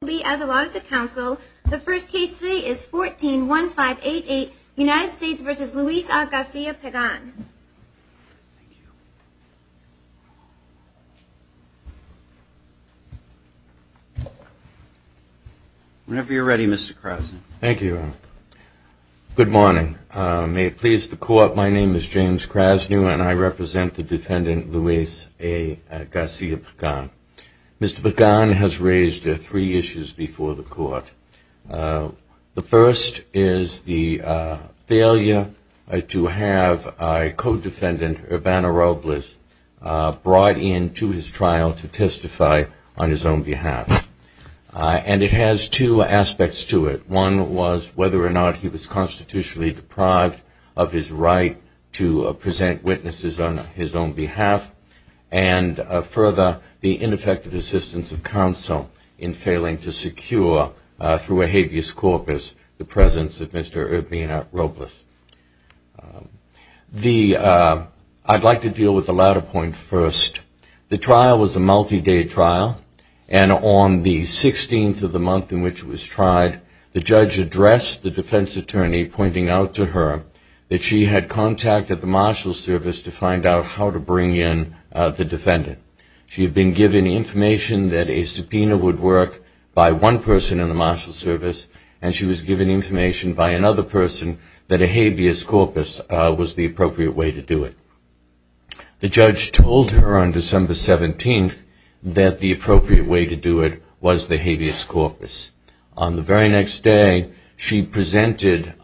Whenever you're ready, Mr. Krasny. Thank you. Good morning. May it please the court, my name is James Krasny and I represent the defendant Luis A. Garcia-Pagan. Mr. Pagan has raised three issues before the court. The first is the failure to have a co-defendant, Urbana Robles, brought into his trial to testify on his own behalf. And it has two aspects to it. One was whether or not he was constitutionally deprived of his right to present witnesses on his own behalf. And further, the ineffective assistance of counsel in failing to secure, through a habeas corpus, the presence of Mr. Urbana Robles. I'd like to deal with the latter point first. The trial was a multi-day trial, and on the 16th of the month in which it was tried, the judge addressed the defense attorney, pointing out to her that she had contact at the marshal's service to find out how to bring in the defendant. She had been given information that a subpoena would work by one person in the marshal's service, and she was given information by another person that a habeas corpus was the appropriate way to do it. The judge told her on December 17th that the appropriate way to do it was the habeas corpus. On the very next day, she presented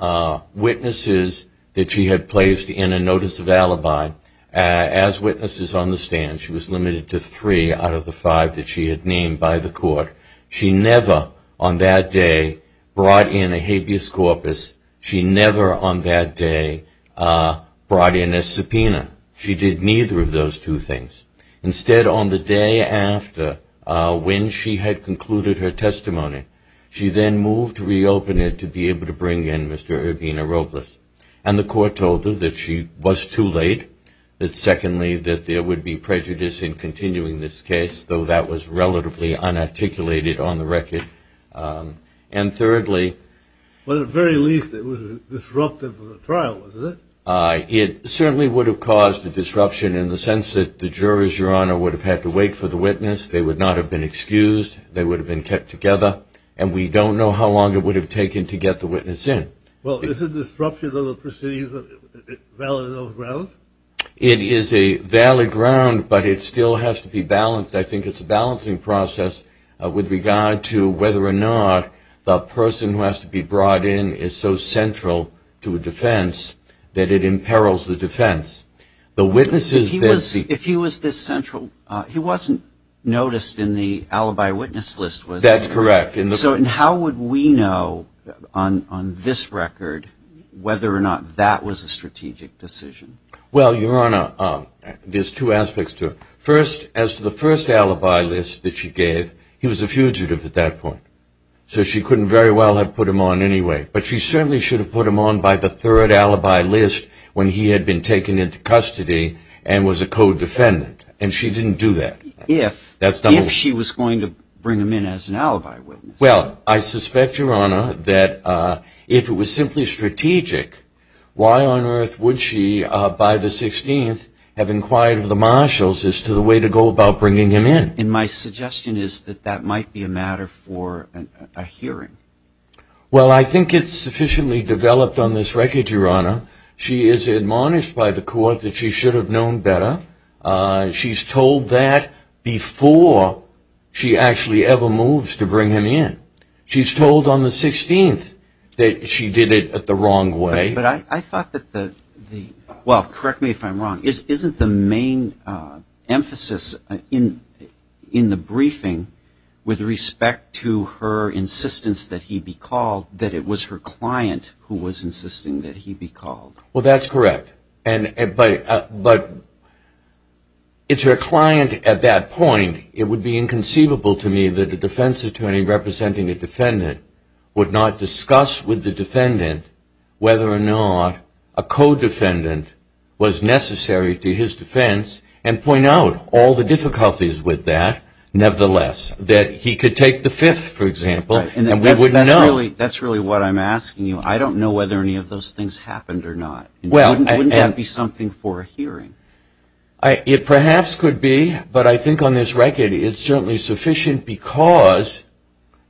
witnesses that she had placed in a notice of alibi as witnesses on the stand. She was limited to three out of the five that she had named by the court. She never, on that day, brought in a habeas corpus. She never, on that day, brought in a subpoena. She did neither of those two things. Instead, on the day after, when she had concluded her testimony, she then moved to reopen it to be able to bring in Mr. Urbana Robles. And the court told her that she was too late, that secondly, that there would be prejudice in continuing this case, though that was relatively unarticulated on the record. And thirdly… At the very least, it was disruptive of the trial, wasn't it? It certainly would have caused a disruption in the sense that the jurors, Your Honor, would have had to wait for the witness. They would not have been excused. They would have been kept together. And we don't know how long it would have taken to get the witness in. Well, is the disruption of the proceedings a valid ground? It is a valid ground, but it still has to be balanced. I think it's a balancing process with regard to whether or not the person who has to be brought in is so central to a defense that it imperils the defense. If he was this central, he wasn't noticed in the alibi witness list, was he? That's correct. So how would we know on this record whether or not that was a strategic decision? Well, Your Honor, there's two aspects to it. First, as to the first alibi list that she gave, he was a fugitive at that point, so she couldn't very well have put him on anyway. But she certainly should have put him on by the third alibi list when he had been taken into custody and was a co-defendant, and she didn't do that. If she was going to bring him in as an alibi witness. Well, I suspect, Your Honor, that if it was simply strategic, why on earth would she, by the 16th, have inquired of the marshals as to the way to go about bringing him in? And my suggestion is that that might be a matter for a hearing. Well, I think it's sufficiently developed on this record, Your Honor. She is admonished by the court that she should have known better. She's told that before she actually ever moves to bring him in. She's told on the 16th that she did it the wrong way. But I thought that the, well, correct me if I'm wrong, isn't the main emphasis in the briefing with respect to her insistence that he be called, that it was her client who was insisting that he be called? Well, that's correct. But it's her client at that point. It would be inconceivable to me that a defense attorney representing a defendant would not discuss with the defendant whether or not a co-defendant was necessary to his defense and point out all the difficulties with that nevertheless, that he could take the fifth, for example, and we wouldn't know. That's really what I'm asking you. I don't know whether any of those things happened or not. Wouldn't that be something for a hearing? It perhaps could be, but I think on this record it's certainly sufficient because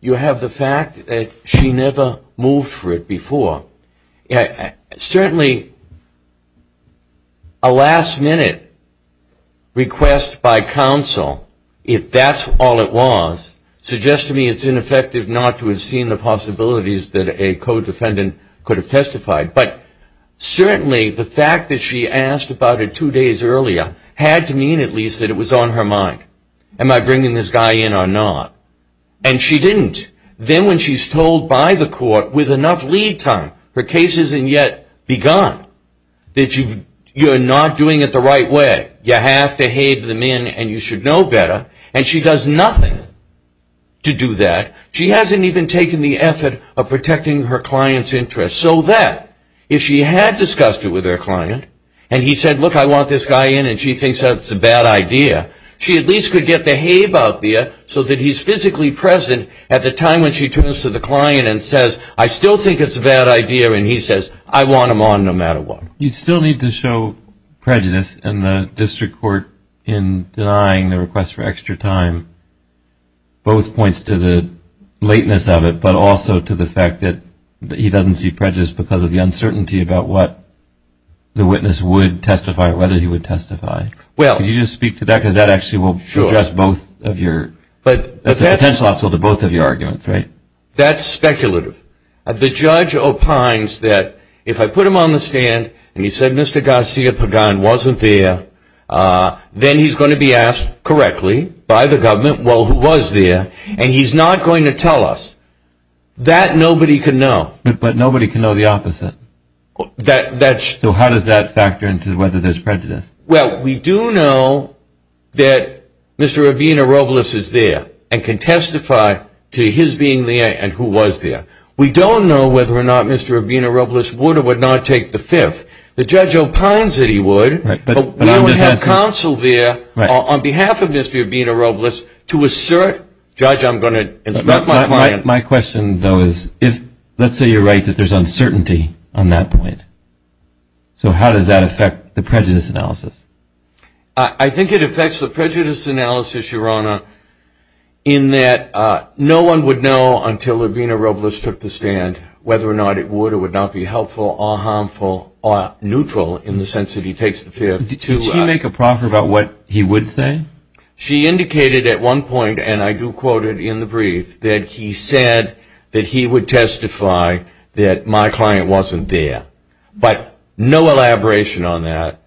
you have the fact that she never moved for it before. Certainly a last minute request by counsel, if that's all it was, suggests to me it's ineffective not to have seen the possibilities that a co-defendant could have testified. But certainly the fact that she asked about it two days earlier had to mean at least that it was on her mind. Am I bringing this guy in or not? And she didn't. Then when she's told by the court with enough lead time, her case isn't yet begun, that you're not doing it the right way. You have to have them in and you should know better. And she does nothing to do that. She hasn't even taken the effort of protecting her client's interest so that if she had discussed it with her client and he said, look, I want this guy in and she thinks that's a bad idea, she at least could get the hay about there so that he's physically present at the time when she turns to the client and says, I still think it's a bad idea, and he says, I want him on no matter what. You still need to show prejudice in the district court in denying the request for extra time. Both points to the lateness of it, but also to the fact that he doesn't see prejudice because of the uncertainty about what the witness would testify or whether he would testify. Could you just speak to that because that actually will address both of your, that's a potential obstacle to both of your arguments, right? That's speculative. The judge opines that if I put him on the stand and he said Mr. Garcia Pagan wasn't there, then he's going to be asked correctly by the government, well, who was there, and he's not going to tell us. That nobody can know. But nobody can know the opposite. So how does that factor into whether there's prejudice? Well, we do know that Mr. Urbina-Robles is there and can testify to his being there and who was there. We don't know whether or not Mr. Urbina-Robles would or would not take the fifth. The judge opines that he would, but we don't have counsel there on behalf of Mr. Urbina-Robles to assert, judge, I'm going to instruct my client. My question, though, is let's say you're right that there's uncertainty on that point. So how does that affect the prejudice analysis? I think it affects the prejudice analysis, Your Honor, in that no one would know until Urbina-Robles took the stand whether or not it would or would not be helpful or harmful or neutral in the sense that he takes the fifth. Did she make a proffer about what he would say? She indicated at one point, and I do quote it in the brief, that he said that he would testify that my client wasn't there. But no elaboration on that,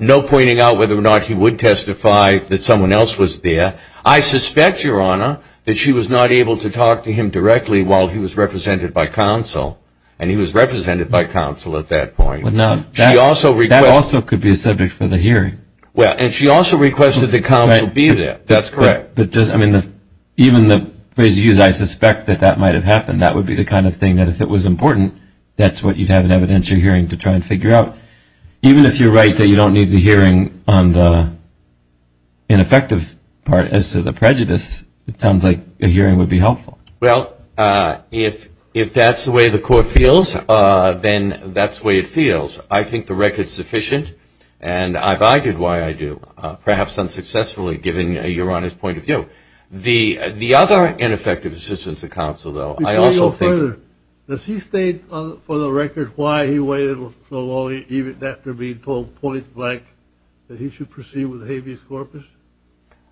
no pointing out whether or not he would testify that someone else was there. I suspect, Your Honor, that she was not able to talk to him directly while he was represented by counsel, and he was represented by counsel at that point. That also could be a subject for the hearing. Well, and she also requested that counsel be there. That's correct. Even the phrase you used, I suspect that that might have happened. That would be the kind of thing that if it was important, that's what you'd have in evidence you're hearing to try and figure out. Even if you're right that you don't need the hearing on the ineffective part as to the prejudice, it sounds like a hearing would be helpful. Well, if that's the way the court feels, then that's the way it feels. I think the record's sufficient, and I've argued why I do, perhaps unsuccessfully, given Your Honor's point of view. The other ineffective assistance of counsel, though, I also think – Before you go further, does he state for the record why he waited so long even after being told point blank that he should proceed with habeas corpus?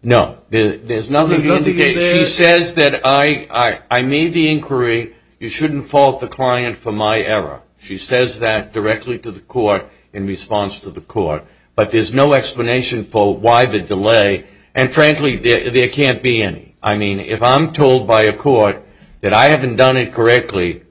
No. There's nothing to indicate – There's nothing in there? She says that I made the inquiry. You shouldn't fault the client for my error. She says that directly to the court in response to the court. But there's no explanation for why the delay. And frankly, there can't be any. I mean, if I'm told by a court that I haven't done it correctly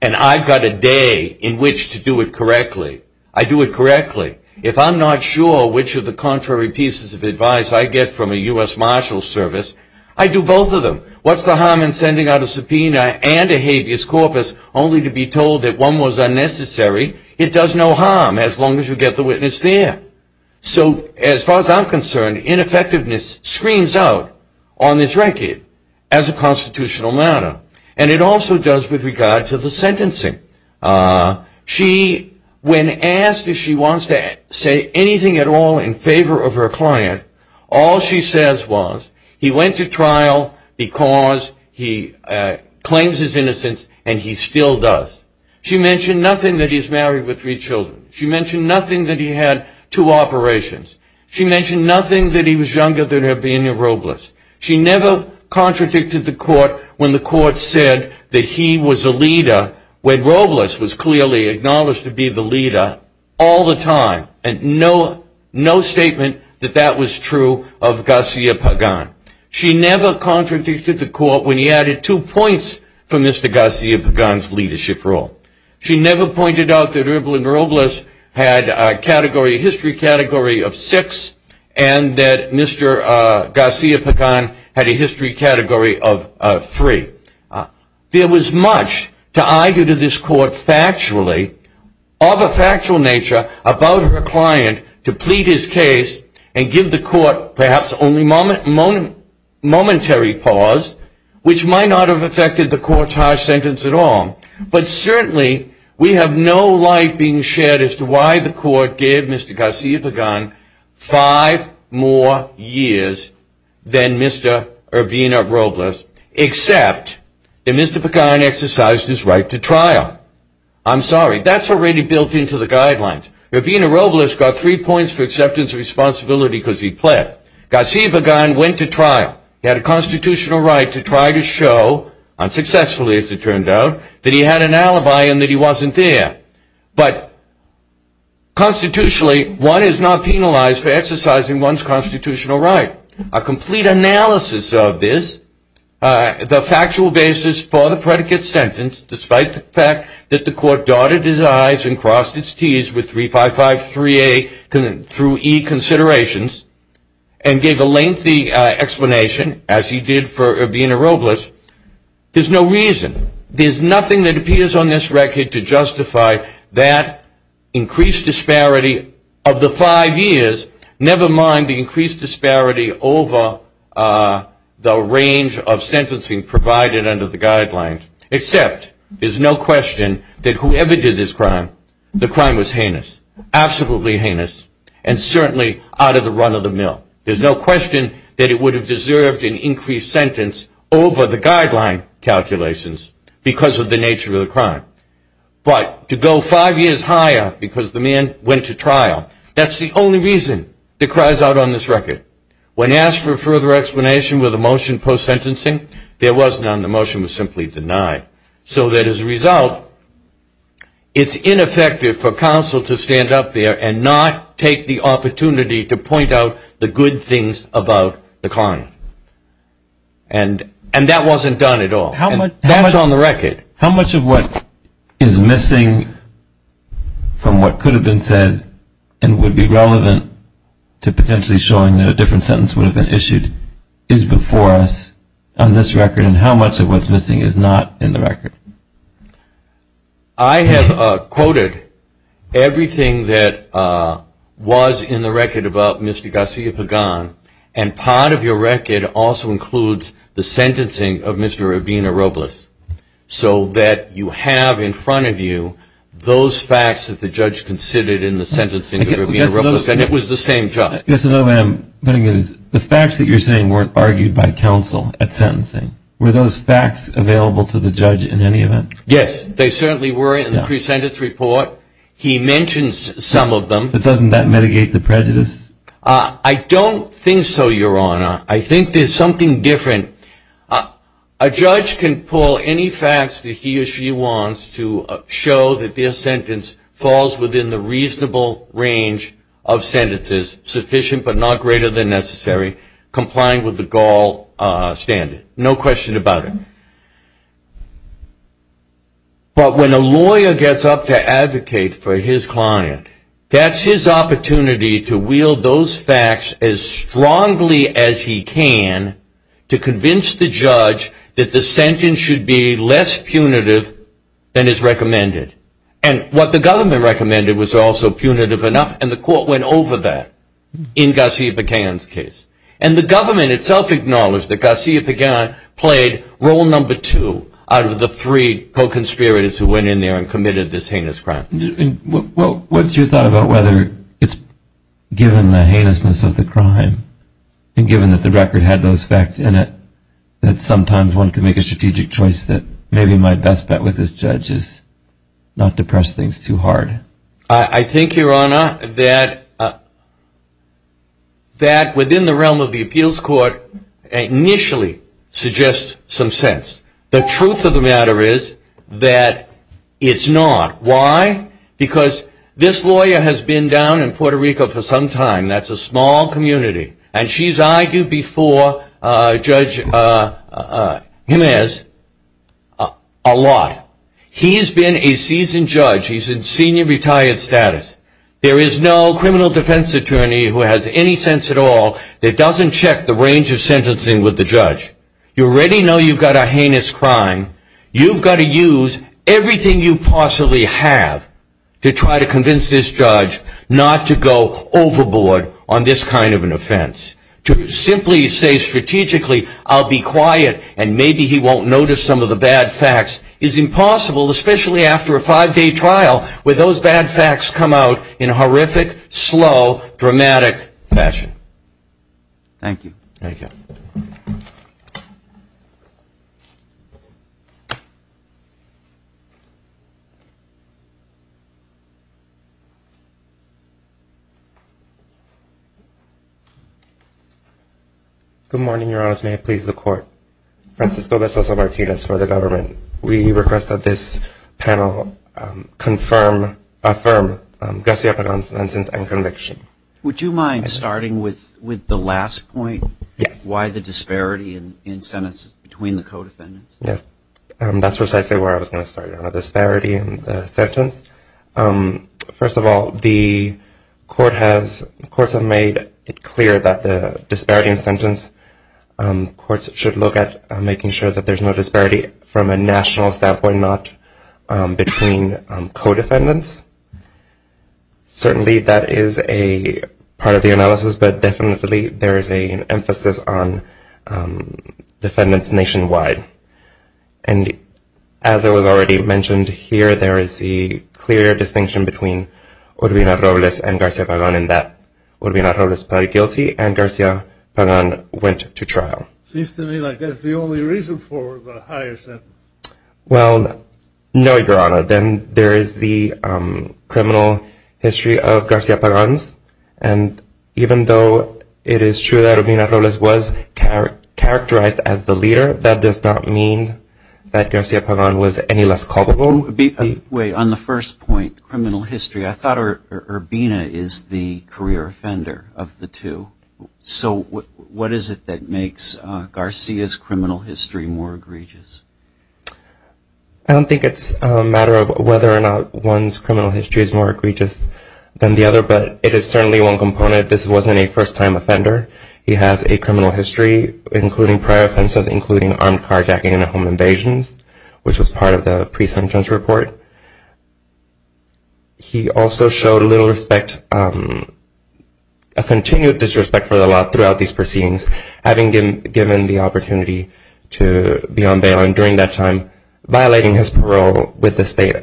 and I've got a day in which to do it correctly, I do it correctly. If I'm not sure which of the contrary pieces of advice I get from a U.S. Marshals Service, I do both of them. What's the harm in sending out a subpoena and a habeas corpus only to be told that one was unnecessary? It does no harm as long as you get the witness there. So as far as I'm concerned, ineffectiveness screams out on this record as a constitutional matter. And it also does with regard to the sentencing. She, when asked if she wants to say anything at all in favor of her client, all she says was, he went to trial because he claims his innocence and he still does. She mentioned nothing that he's married with three children. She mentioned nothing that he had two operations. She mentioned nothing that he was younger than her being a rogueless. She never contradicted the court when the court said that he was a leader when rogueless was clearly acknowledged to be the leader all the time. And no statement that that was true of Garcia Pagan. She never contradicted the court when he added two points for Mr. Garcia Pagan's leadership role. She never pointed out that Erbil and Rogueless had a history category of six and that Mr. Garcia Pagan had a history category of three. There was much to argue to this court factually, of a factual nature, about her client to plead his case and give the court perhaps only momentary pause, which might not have affected the courtage sentence at all. But certainly we have no light being shed as to why the court gave Mr. Garcia Pagan five more years than Mr. Erbil and Rogueless, except that Mr. Pagan exercised his right to trial. I'm sorry. That's already built into the guidelines. Erbil and Rogueless got three points for acceptance of responsibility because he pled. Garcia Pagan went to trial. He had a constitutional right to try to show, unsuccessfully as it turned out, that he had an alibi and that he wasn't there. But constitutionally, one is not penalized for exercising one's constitutional right. A complete analysis of this, the factual basis for the predicate sentence, despite the fact that the court darted his I's and crossed his T's with 3553A through E considerations, and gave a lengthy explanation, as he did for Erbil and Rogueless, there's no reason, there's nothing that appears on this record to justify that increased disparity of the five years, never mind the increased disparity over the range of sentencing provided under the guidelines, except there's no question that whoever did this crime, the crime was heinous, absolutely heinous, and certainly out of the run of the mill. There's no question that it would have deserved an increased sentence over the guideline calculations because of the nature of the crime. But to go five years higher because the man went to trial, that's the only reason that cries out on this record. When asked for further explanation with a motion post-sentencing, there was none. The motion was simply denied. So that as a result, it's ineffective for counsel to stand up there and not take the opportunity to point out the good things about the crime. And that wasn't done at all. That was on the record. How much of what is missing from what could have been said and would be relevant to potentially showing that a different sentence would have been issued is before us on this record, and how much of what's missing is not in the record? I have quoted everything that was in the record about Mr. Garcia-Pagan, and part of your record also includes the sentencing of Mr. Rabino-Robles, so that you have in front of you those facts that the judge considered in the sentencing of Rabino-Robles, and it was the same judge. I guess another way I'm putting it is the facts that you're saying weren't argued by counsel at sentencing. Were those facts available to the judge in any event? Yes, they certainly were in the pre-sentence report. He mentions some of them. But doesn't that mitigate the prejudice? I don't think so, Your Honor. I think there's something different. A judge can pull any facts that he or she wants to show that their sentence falls within the reasonable range of sentences, sufficient but not greater than necessary, complying with the Gaul standard. No question about it. But when a lawyer gets up to advocate for his client, that's his opportunity to wield those facts as strongly as he can to convince the judge that the sentence should be less punitive than is recommended. And what the government recommended was also punitive enough, and the court went over that in Garcia-Pagan's case. And the government itself acknowledged that Garcia-Pagan played role number two out of the three co-conspirators who went in there and committed this heinous crime. What's your thought about whether it's given the heinousness of the crime, and given that the record had those facts in it, that sometimes one can make a strategic choice that maybe my best bet with this judge is not to press things too hard. I think, Your Honor, that within the realm of the appeals court initially suggests some sense. The truth of the matter is that it's not. Why? Because this lawyer has been down in Puerto Rico for some time. That's a small community. And she's argued before Judge Jiménez a lot. He has been a seasoned judge. He's in senior retired status. There is no criminal defense attorney who has any sense at all that doesn't check the range of sentencing with the judge. You already know you've got a heinous crime. You've got to use everything you possibly have to try to convince this judge not to go overboard on this kind of an offense. To simply say strategically I'll be quiet and maybe he won't notice some of the bad facts is impossible, especially after a five-day trial where those bad facts come out in horrific, slow, dramatic fashion. Thank you. Thank you. Thank you. Good morning, Your Honors. May it please the Court. Francisco Bestoso-Martinez for the government. We request that this panel affirm Garcia Pagan's sentence and conviction. Would you mind starting with the last point? Yes. Why the disparity in sentences between the codefendants? Yes. That's precisely where I was going to start on the disparity in the sentence. First of all, the courts have made it clear that the disparity in sentence courts should look at making sure that there's no disparity from a national standpoint, not between codefendants. Certainly that is a part of the analysis, but definitely there is an emphasis on defendants nationwide. And as it was already mentioned here, there is a clear distinction between Urbina Robles and Garcia Pagan in that Urbina Robles pled guilty and Garcia Pagan went to trial. Seems to me like that's the only reason for the higher sentence. Well, no, Your Honor. Then there is the criminal history of Garcia Pagan's, and even though it is true that Urbina Robles was characterized as the leader, that does not mean that Garcia Pagan was any less culpable. Wait. On the first point, criminal history, I thought Urbina is the career offender of the two. So what is it that makes Garcia's criminal history more egregious? I don't think it's a matter of whether or not one's criminal history is more egregious than the other, but it is certainly one component. This wasn't a first-time offender. He has a criminal history, including prior offenses, including armed carjacking and home invasions, which was part of the pre-sentence report. He also showed little respect, a continued disrespect for the law throughout these proceedings, having been given the opportunity to be on bail and during that time violating his parole with the state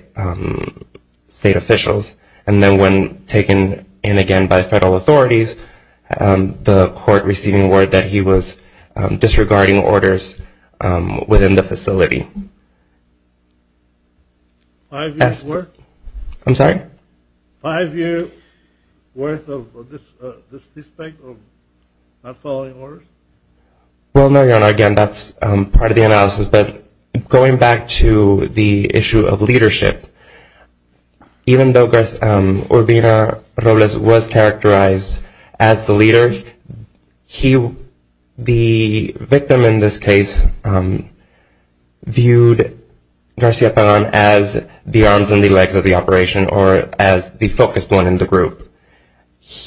officials. And then when taken in again by federal authorities, the court receiving word that he was disregarding orders within the facility. I'm sorry? Well, no, Your Honor, again, that's part of the analysis. But going back to the issue of leadership, even though Urbina Robles was characterized as the leader, the victim in this case viewed Garcia Pagan as the arms and the legs of the operation or as the focused one in the group.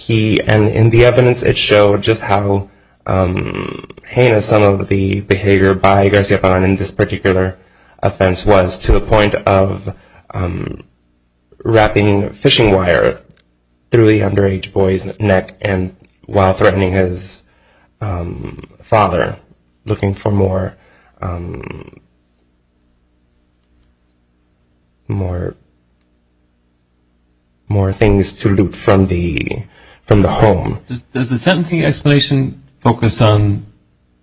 And in the evidence it showed just how heinous some of the behavior by Garcia Pagan in this particular offense was to the point of wrapping fishing wire through the underage boy's neck while threatening his father, looking for more things to loot from the home. Does the sentencing explanation focus on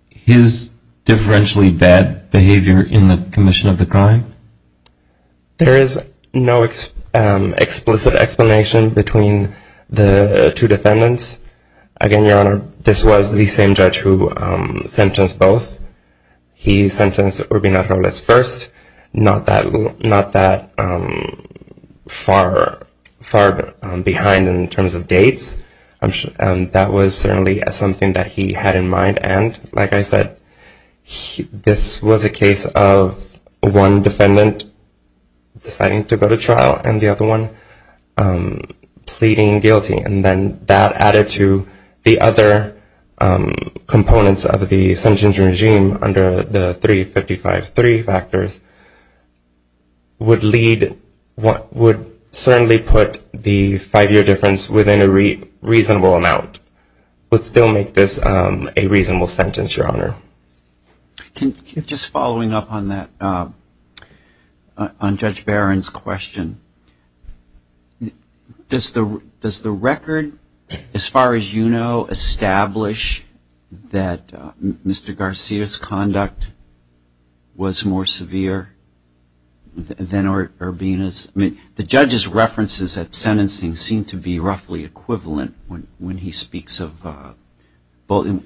his differentially bad behavior in the commission of the crime? There is no explicit explanation between the two defendants. Again, Your Honor, this was the same judge who sentenced both. He sentenced Urbina Robles first, not that far behind in terms of dates. That was certainly something that he had in mind. And, like I said, this was a case of one defendant deciding to go to trial and the other one pleading guilty. And then that added to the other components of the sentencing regime under the 355-3 factors, would certainly put the five-year difference within a reasonable amount, but still make this a reasonable sentence, Your Honor. Just following up on Judge Barron's question, does the record, as far as you know, establish that Mr. Garcia's conduct was more severe than Urbina's? I mean, the judge's references at sentencing seem to be roughly equivalent when he speaks of both.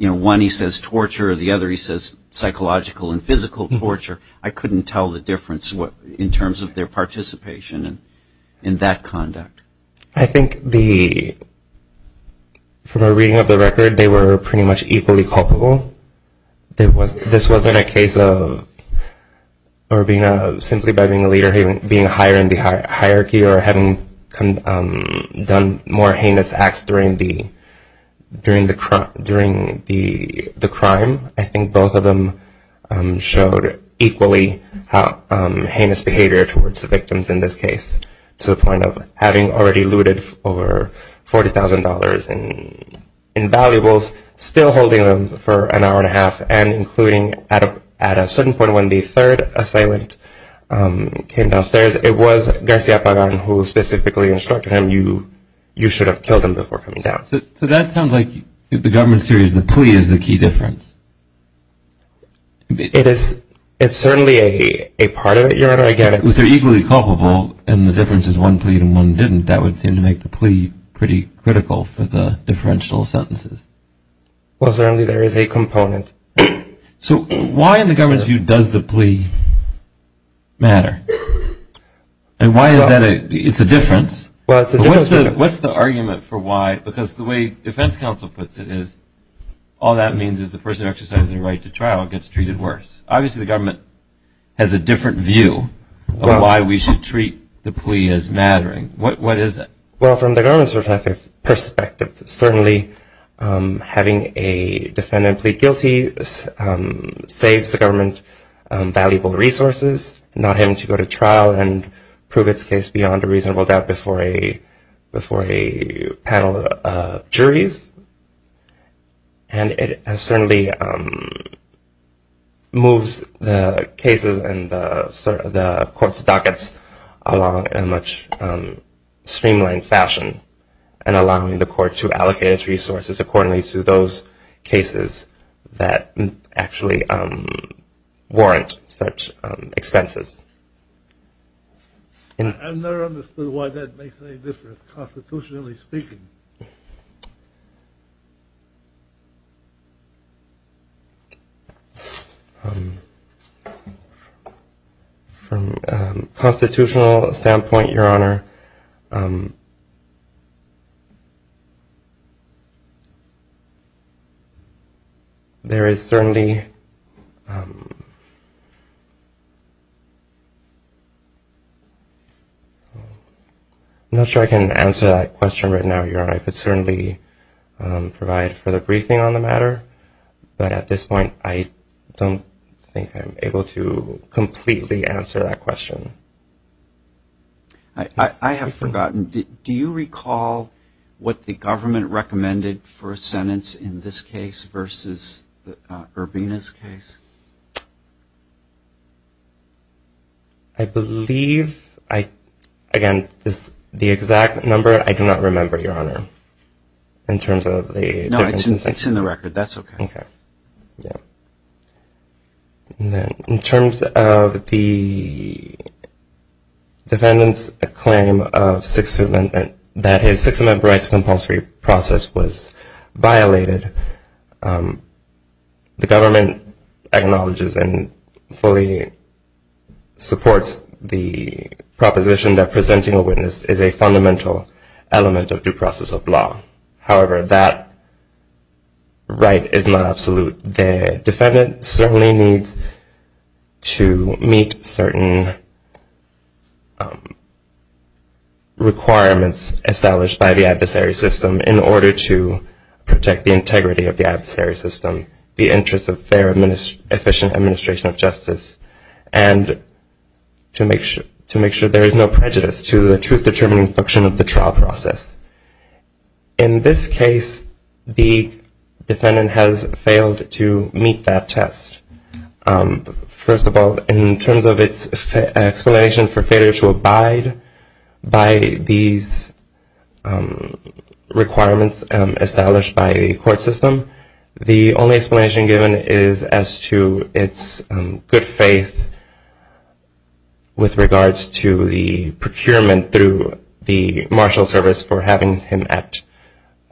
One, he says torture. The other, he says psychological and physical torture. I couldn't tell the difference in terms of their participation in that conduct. I think from a reading of the record, they were pretty much equally culpable. This wasn't a case of Urbina simply by being a leader, being higher in the hierarchy, or having done more heinous acts during the crime. I think both of them showed equally heinous behavior towards the victims in this case, to the point of having already looted over $40,000 in valuables, still holding them for an hour and a half, and including, at a certain point, when the third assailant came downstairs, it was Garcia Pagan who specifically instructed him, you should have killed him before coming down. So that sounds like, in the government series, the plea is the key difference. It is. It's certainly a part of it, Your Honor. I get it. If they're equally culpable, and the difference is one plead and one didn't, that would seem to make the plea pretty critical for the differential sentences. Well, certainly there is a component. So why, in the government's view, does the plea matter? And why is that a – it's a difference. Well, it's a difference. What's the argument for why? Because the way defense counsel puts it is, all that means is the person exercising the right to trial gets treated worse. Obviously the government has a different view of why we should treat the plea as mattering. What is it? Well, from the government's perspective, certainly having a defendant plead guilty saves the government valuable resources, not having to go to trial and prove its case beyond a reasonable doubt before a panel of juries. And it certainly moves the cases and the court's dockets along in a much streamlined fashion and allowing the court to allocate its resources accordingly to those cases that actually warrant such expenses. I've never understood why that makes any difference, constitutionally speaking. From a constitutional standpoint, Your Honor, there is certainly – I'm not sure I can answer that question right now, Your Honor. I could certainly provide further briefing on the matter, but at this point I don't think I'm able to completely answer that question. I have forgotten. Do you recall what the government recommended for a sentence in this case versus Urbina's case? I believe – again, the exact number I do not remember, Your Honor, in terms of the – No, it's in the record. That's okay. In terms of the defendant's claim that his Sixth Amendment rights compulsory process was violated, the government acknowledges and fully supports the proposition that presenting a witness is a fundamental element of due process of law. However, that right is not absolute. The defendant certainly needs to meet certain requirements established by the adversary system in order to protect the integrity of the adversary system, the interests of their efficient administration of justice, and to make sure there is no prejudice to the truth-determining function of the trial process. In this case, the defendant has failed to meet that test. First of all, in terms of its explanation for failure to abide by these requirements established by the court system, the only explanation given is as to its good faith with regards to the procurement through the marshal service for having him at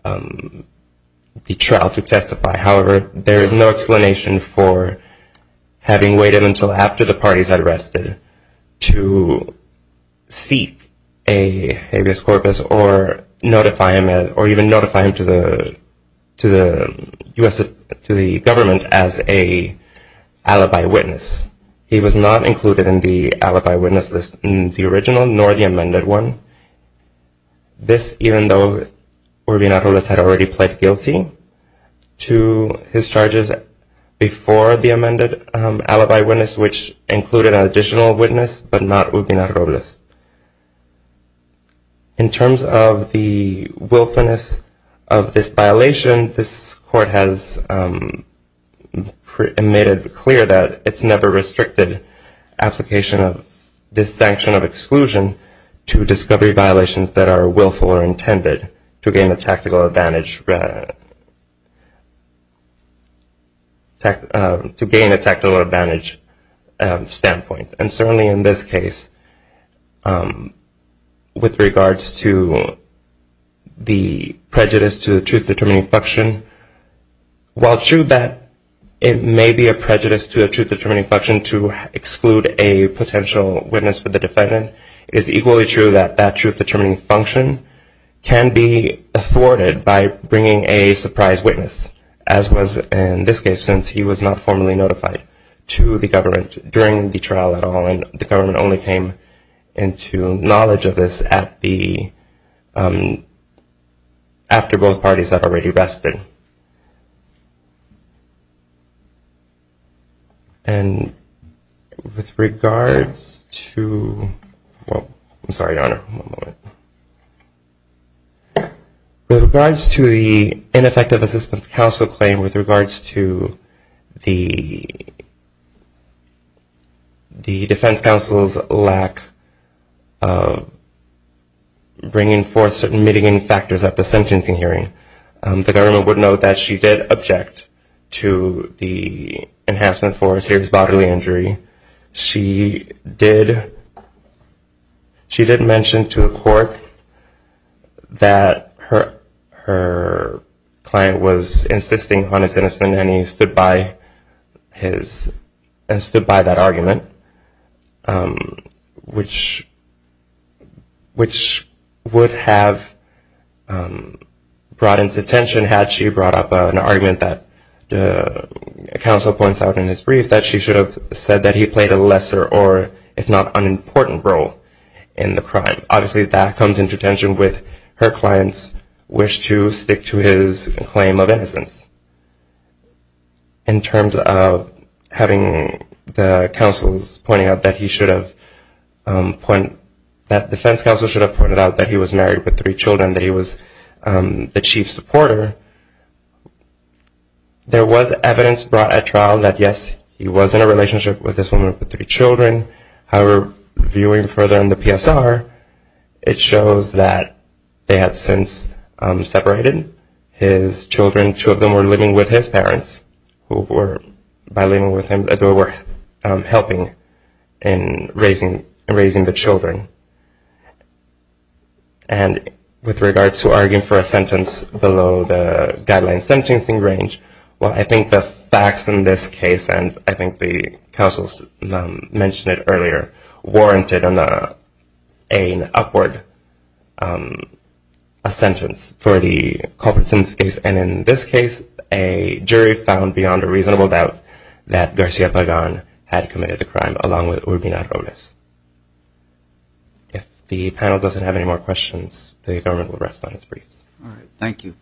the trial to testify. However, there is no explanation for having waited until after the party is arrested to seek a habeas corpus or even notify him to the government as an alibi witness. He was not included in the alibi witness list in the original, nor the amended one. This, even though Urbina-Rules had already pled guilty to his charges before the amended alibi witness, which included an additional witness, but not Urbina-Rules. In terms of the willfulness of this violation, this court has made it clear that it's never restricted application of this sanction of exclusion to discovery violations that are willful or intended to gain a tactical advantage. And certainly in this case, with regards to the prejudice to the truth-determining function, while true that it may be a prejudice to the truth-determining function to exclude a potential witness for the defendant, it is equally true that that truth-determining function can be afforded by bringing a surprise witness, as was in this case, since he was not formally notified to the government during the trial at all. And the government only came into knowledge of this after both parties have already rested. And with regards to the ineffective assistance of counsel, the counsel claim with regards to the defense counsel's lack of bringing forth certain mitigating factors at the sentencing hearing, the government would note that she did object to the enhancement for a serious bodily injury. She did mention to the court that her client was incestuous, insisting on his innocence, and he stood by that argument, which would have brought into tension had she brought up an argument that the counsel points out in his brief that she should have said that he played a lesser or if not unimportant role in the crime. Obviously, that comes into tension with her client's wish to stick to his claim of innocence. In terms of having the counsels pointing out that the defense counsel should have pointed out that he was married with three children, that he was the chief supporter, there was evidence brought at trial that, yes, he was in a relationship with this woman with three children. However, viewing further in the PSR, it shows that they had since separated. His children, two of them were living with his parents who were, by living with him, they were helping in raising the children. And with regards to arguing for a sentence below the guideline sentencing range, well, I think the facts in this case, and I think the counsels mentioned it earlier, warranted an upward sentence for the culprits in this case. And in this case, a jury found beyond a reasonable doubt that Garcia Pagan had committed the crime along with Urbina Robles. If the panel doesn't have any more questions, the government will rest on its briefs. Thank you.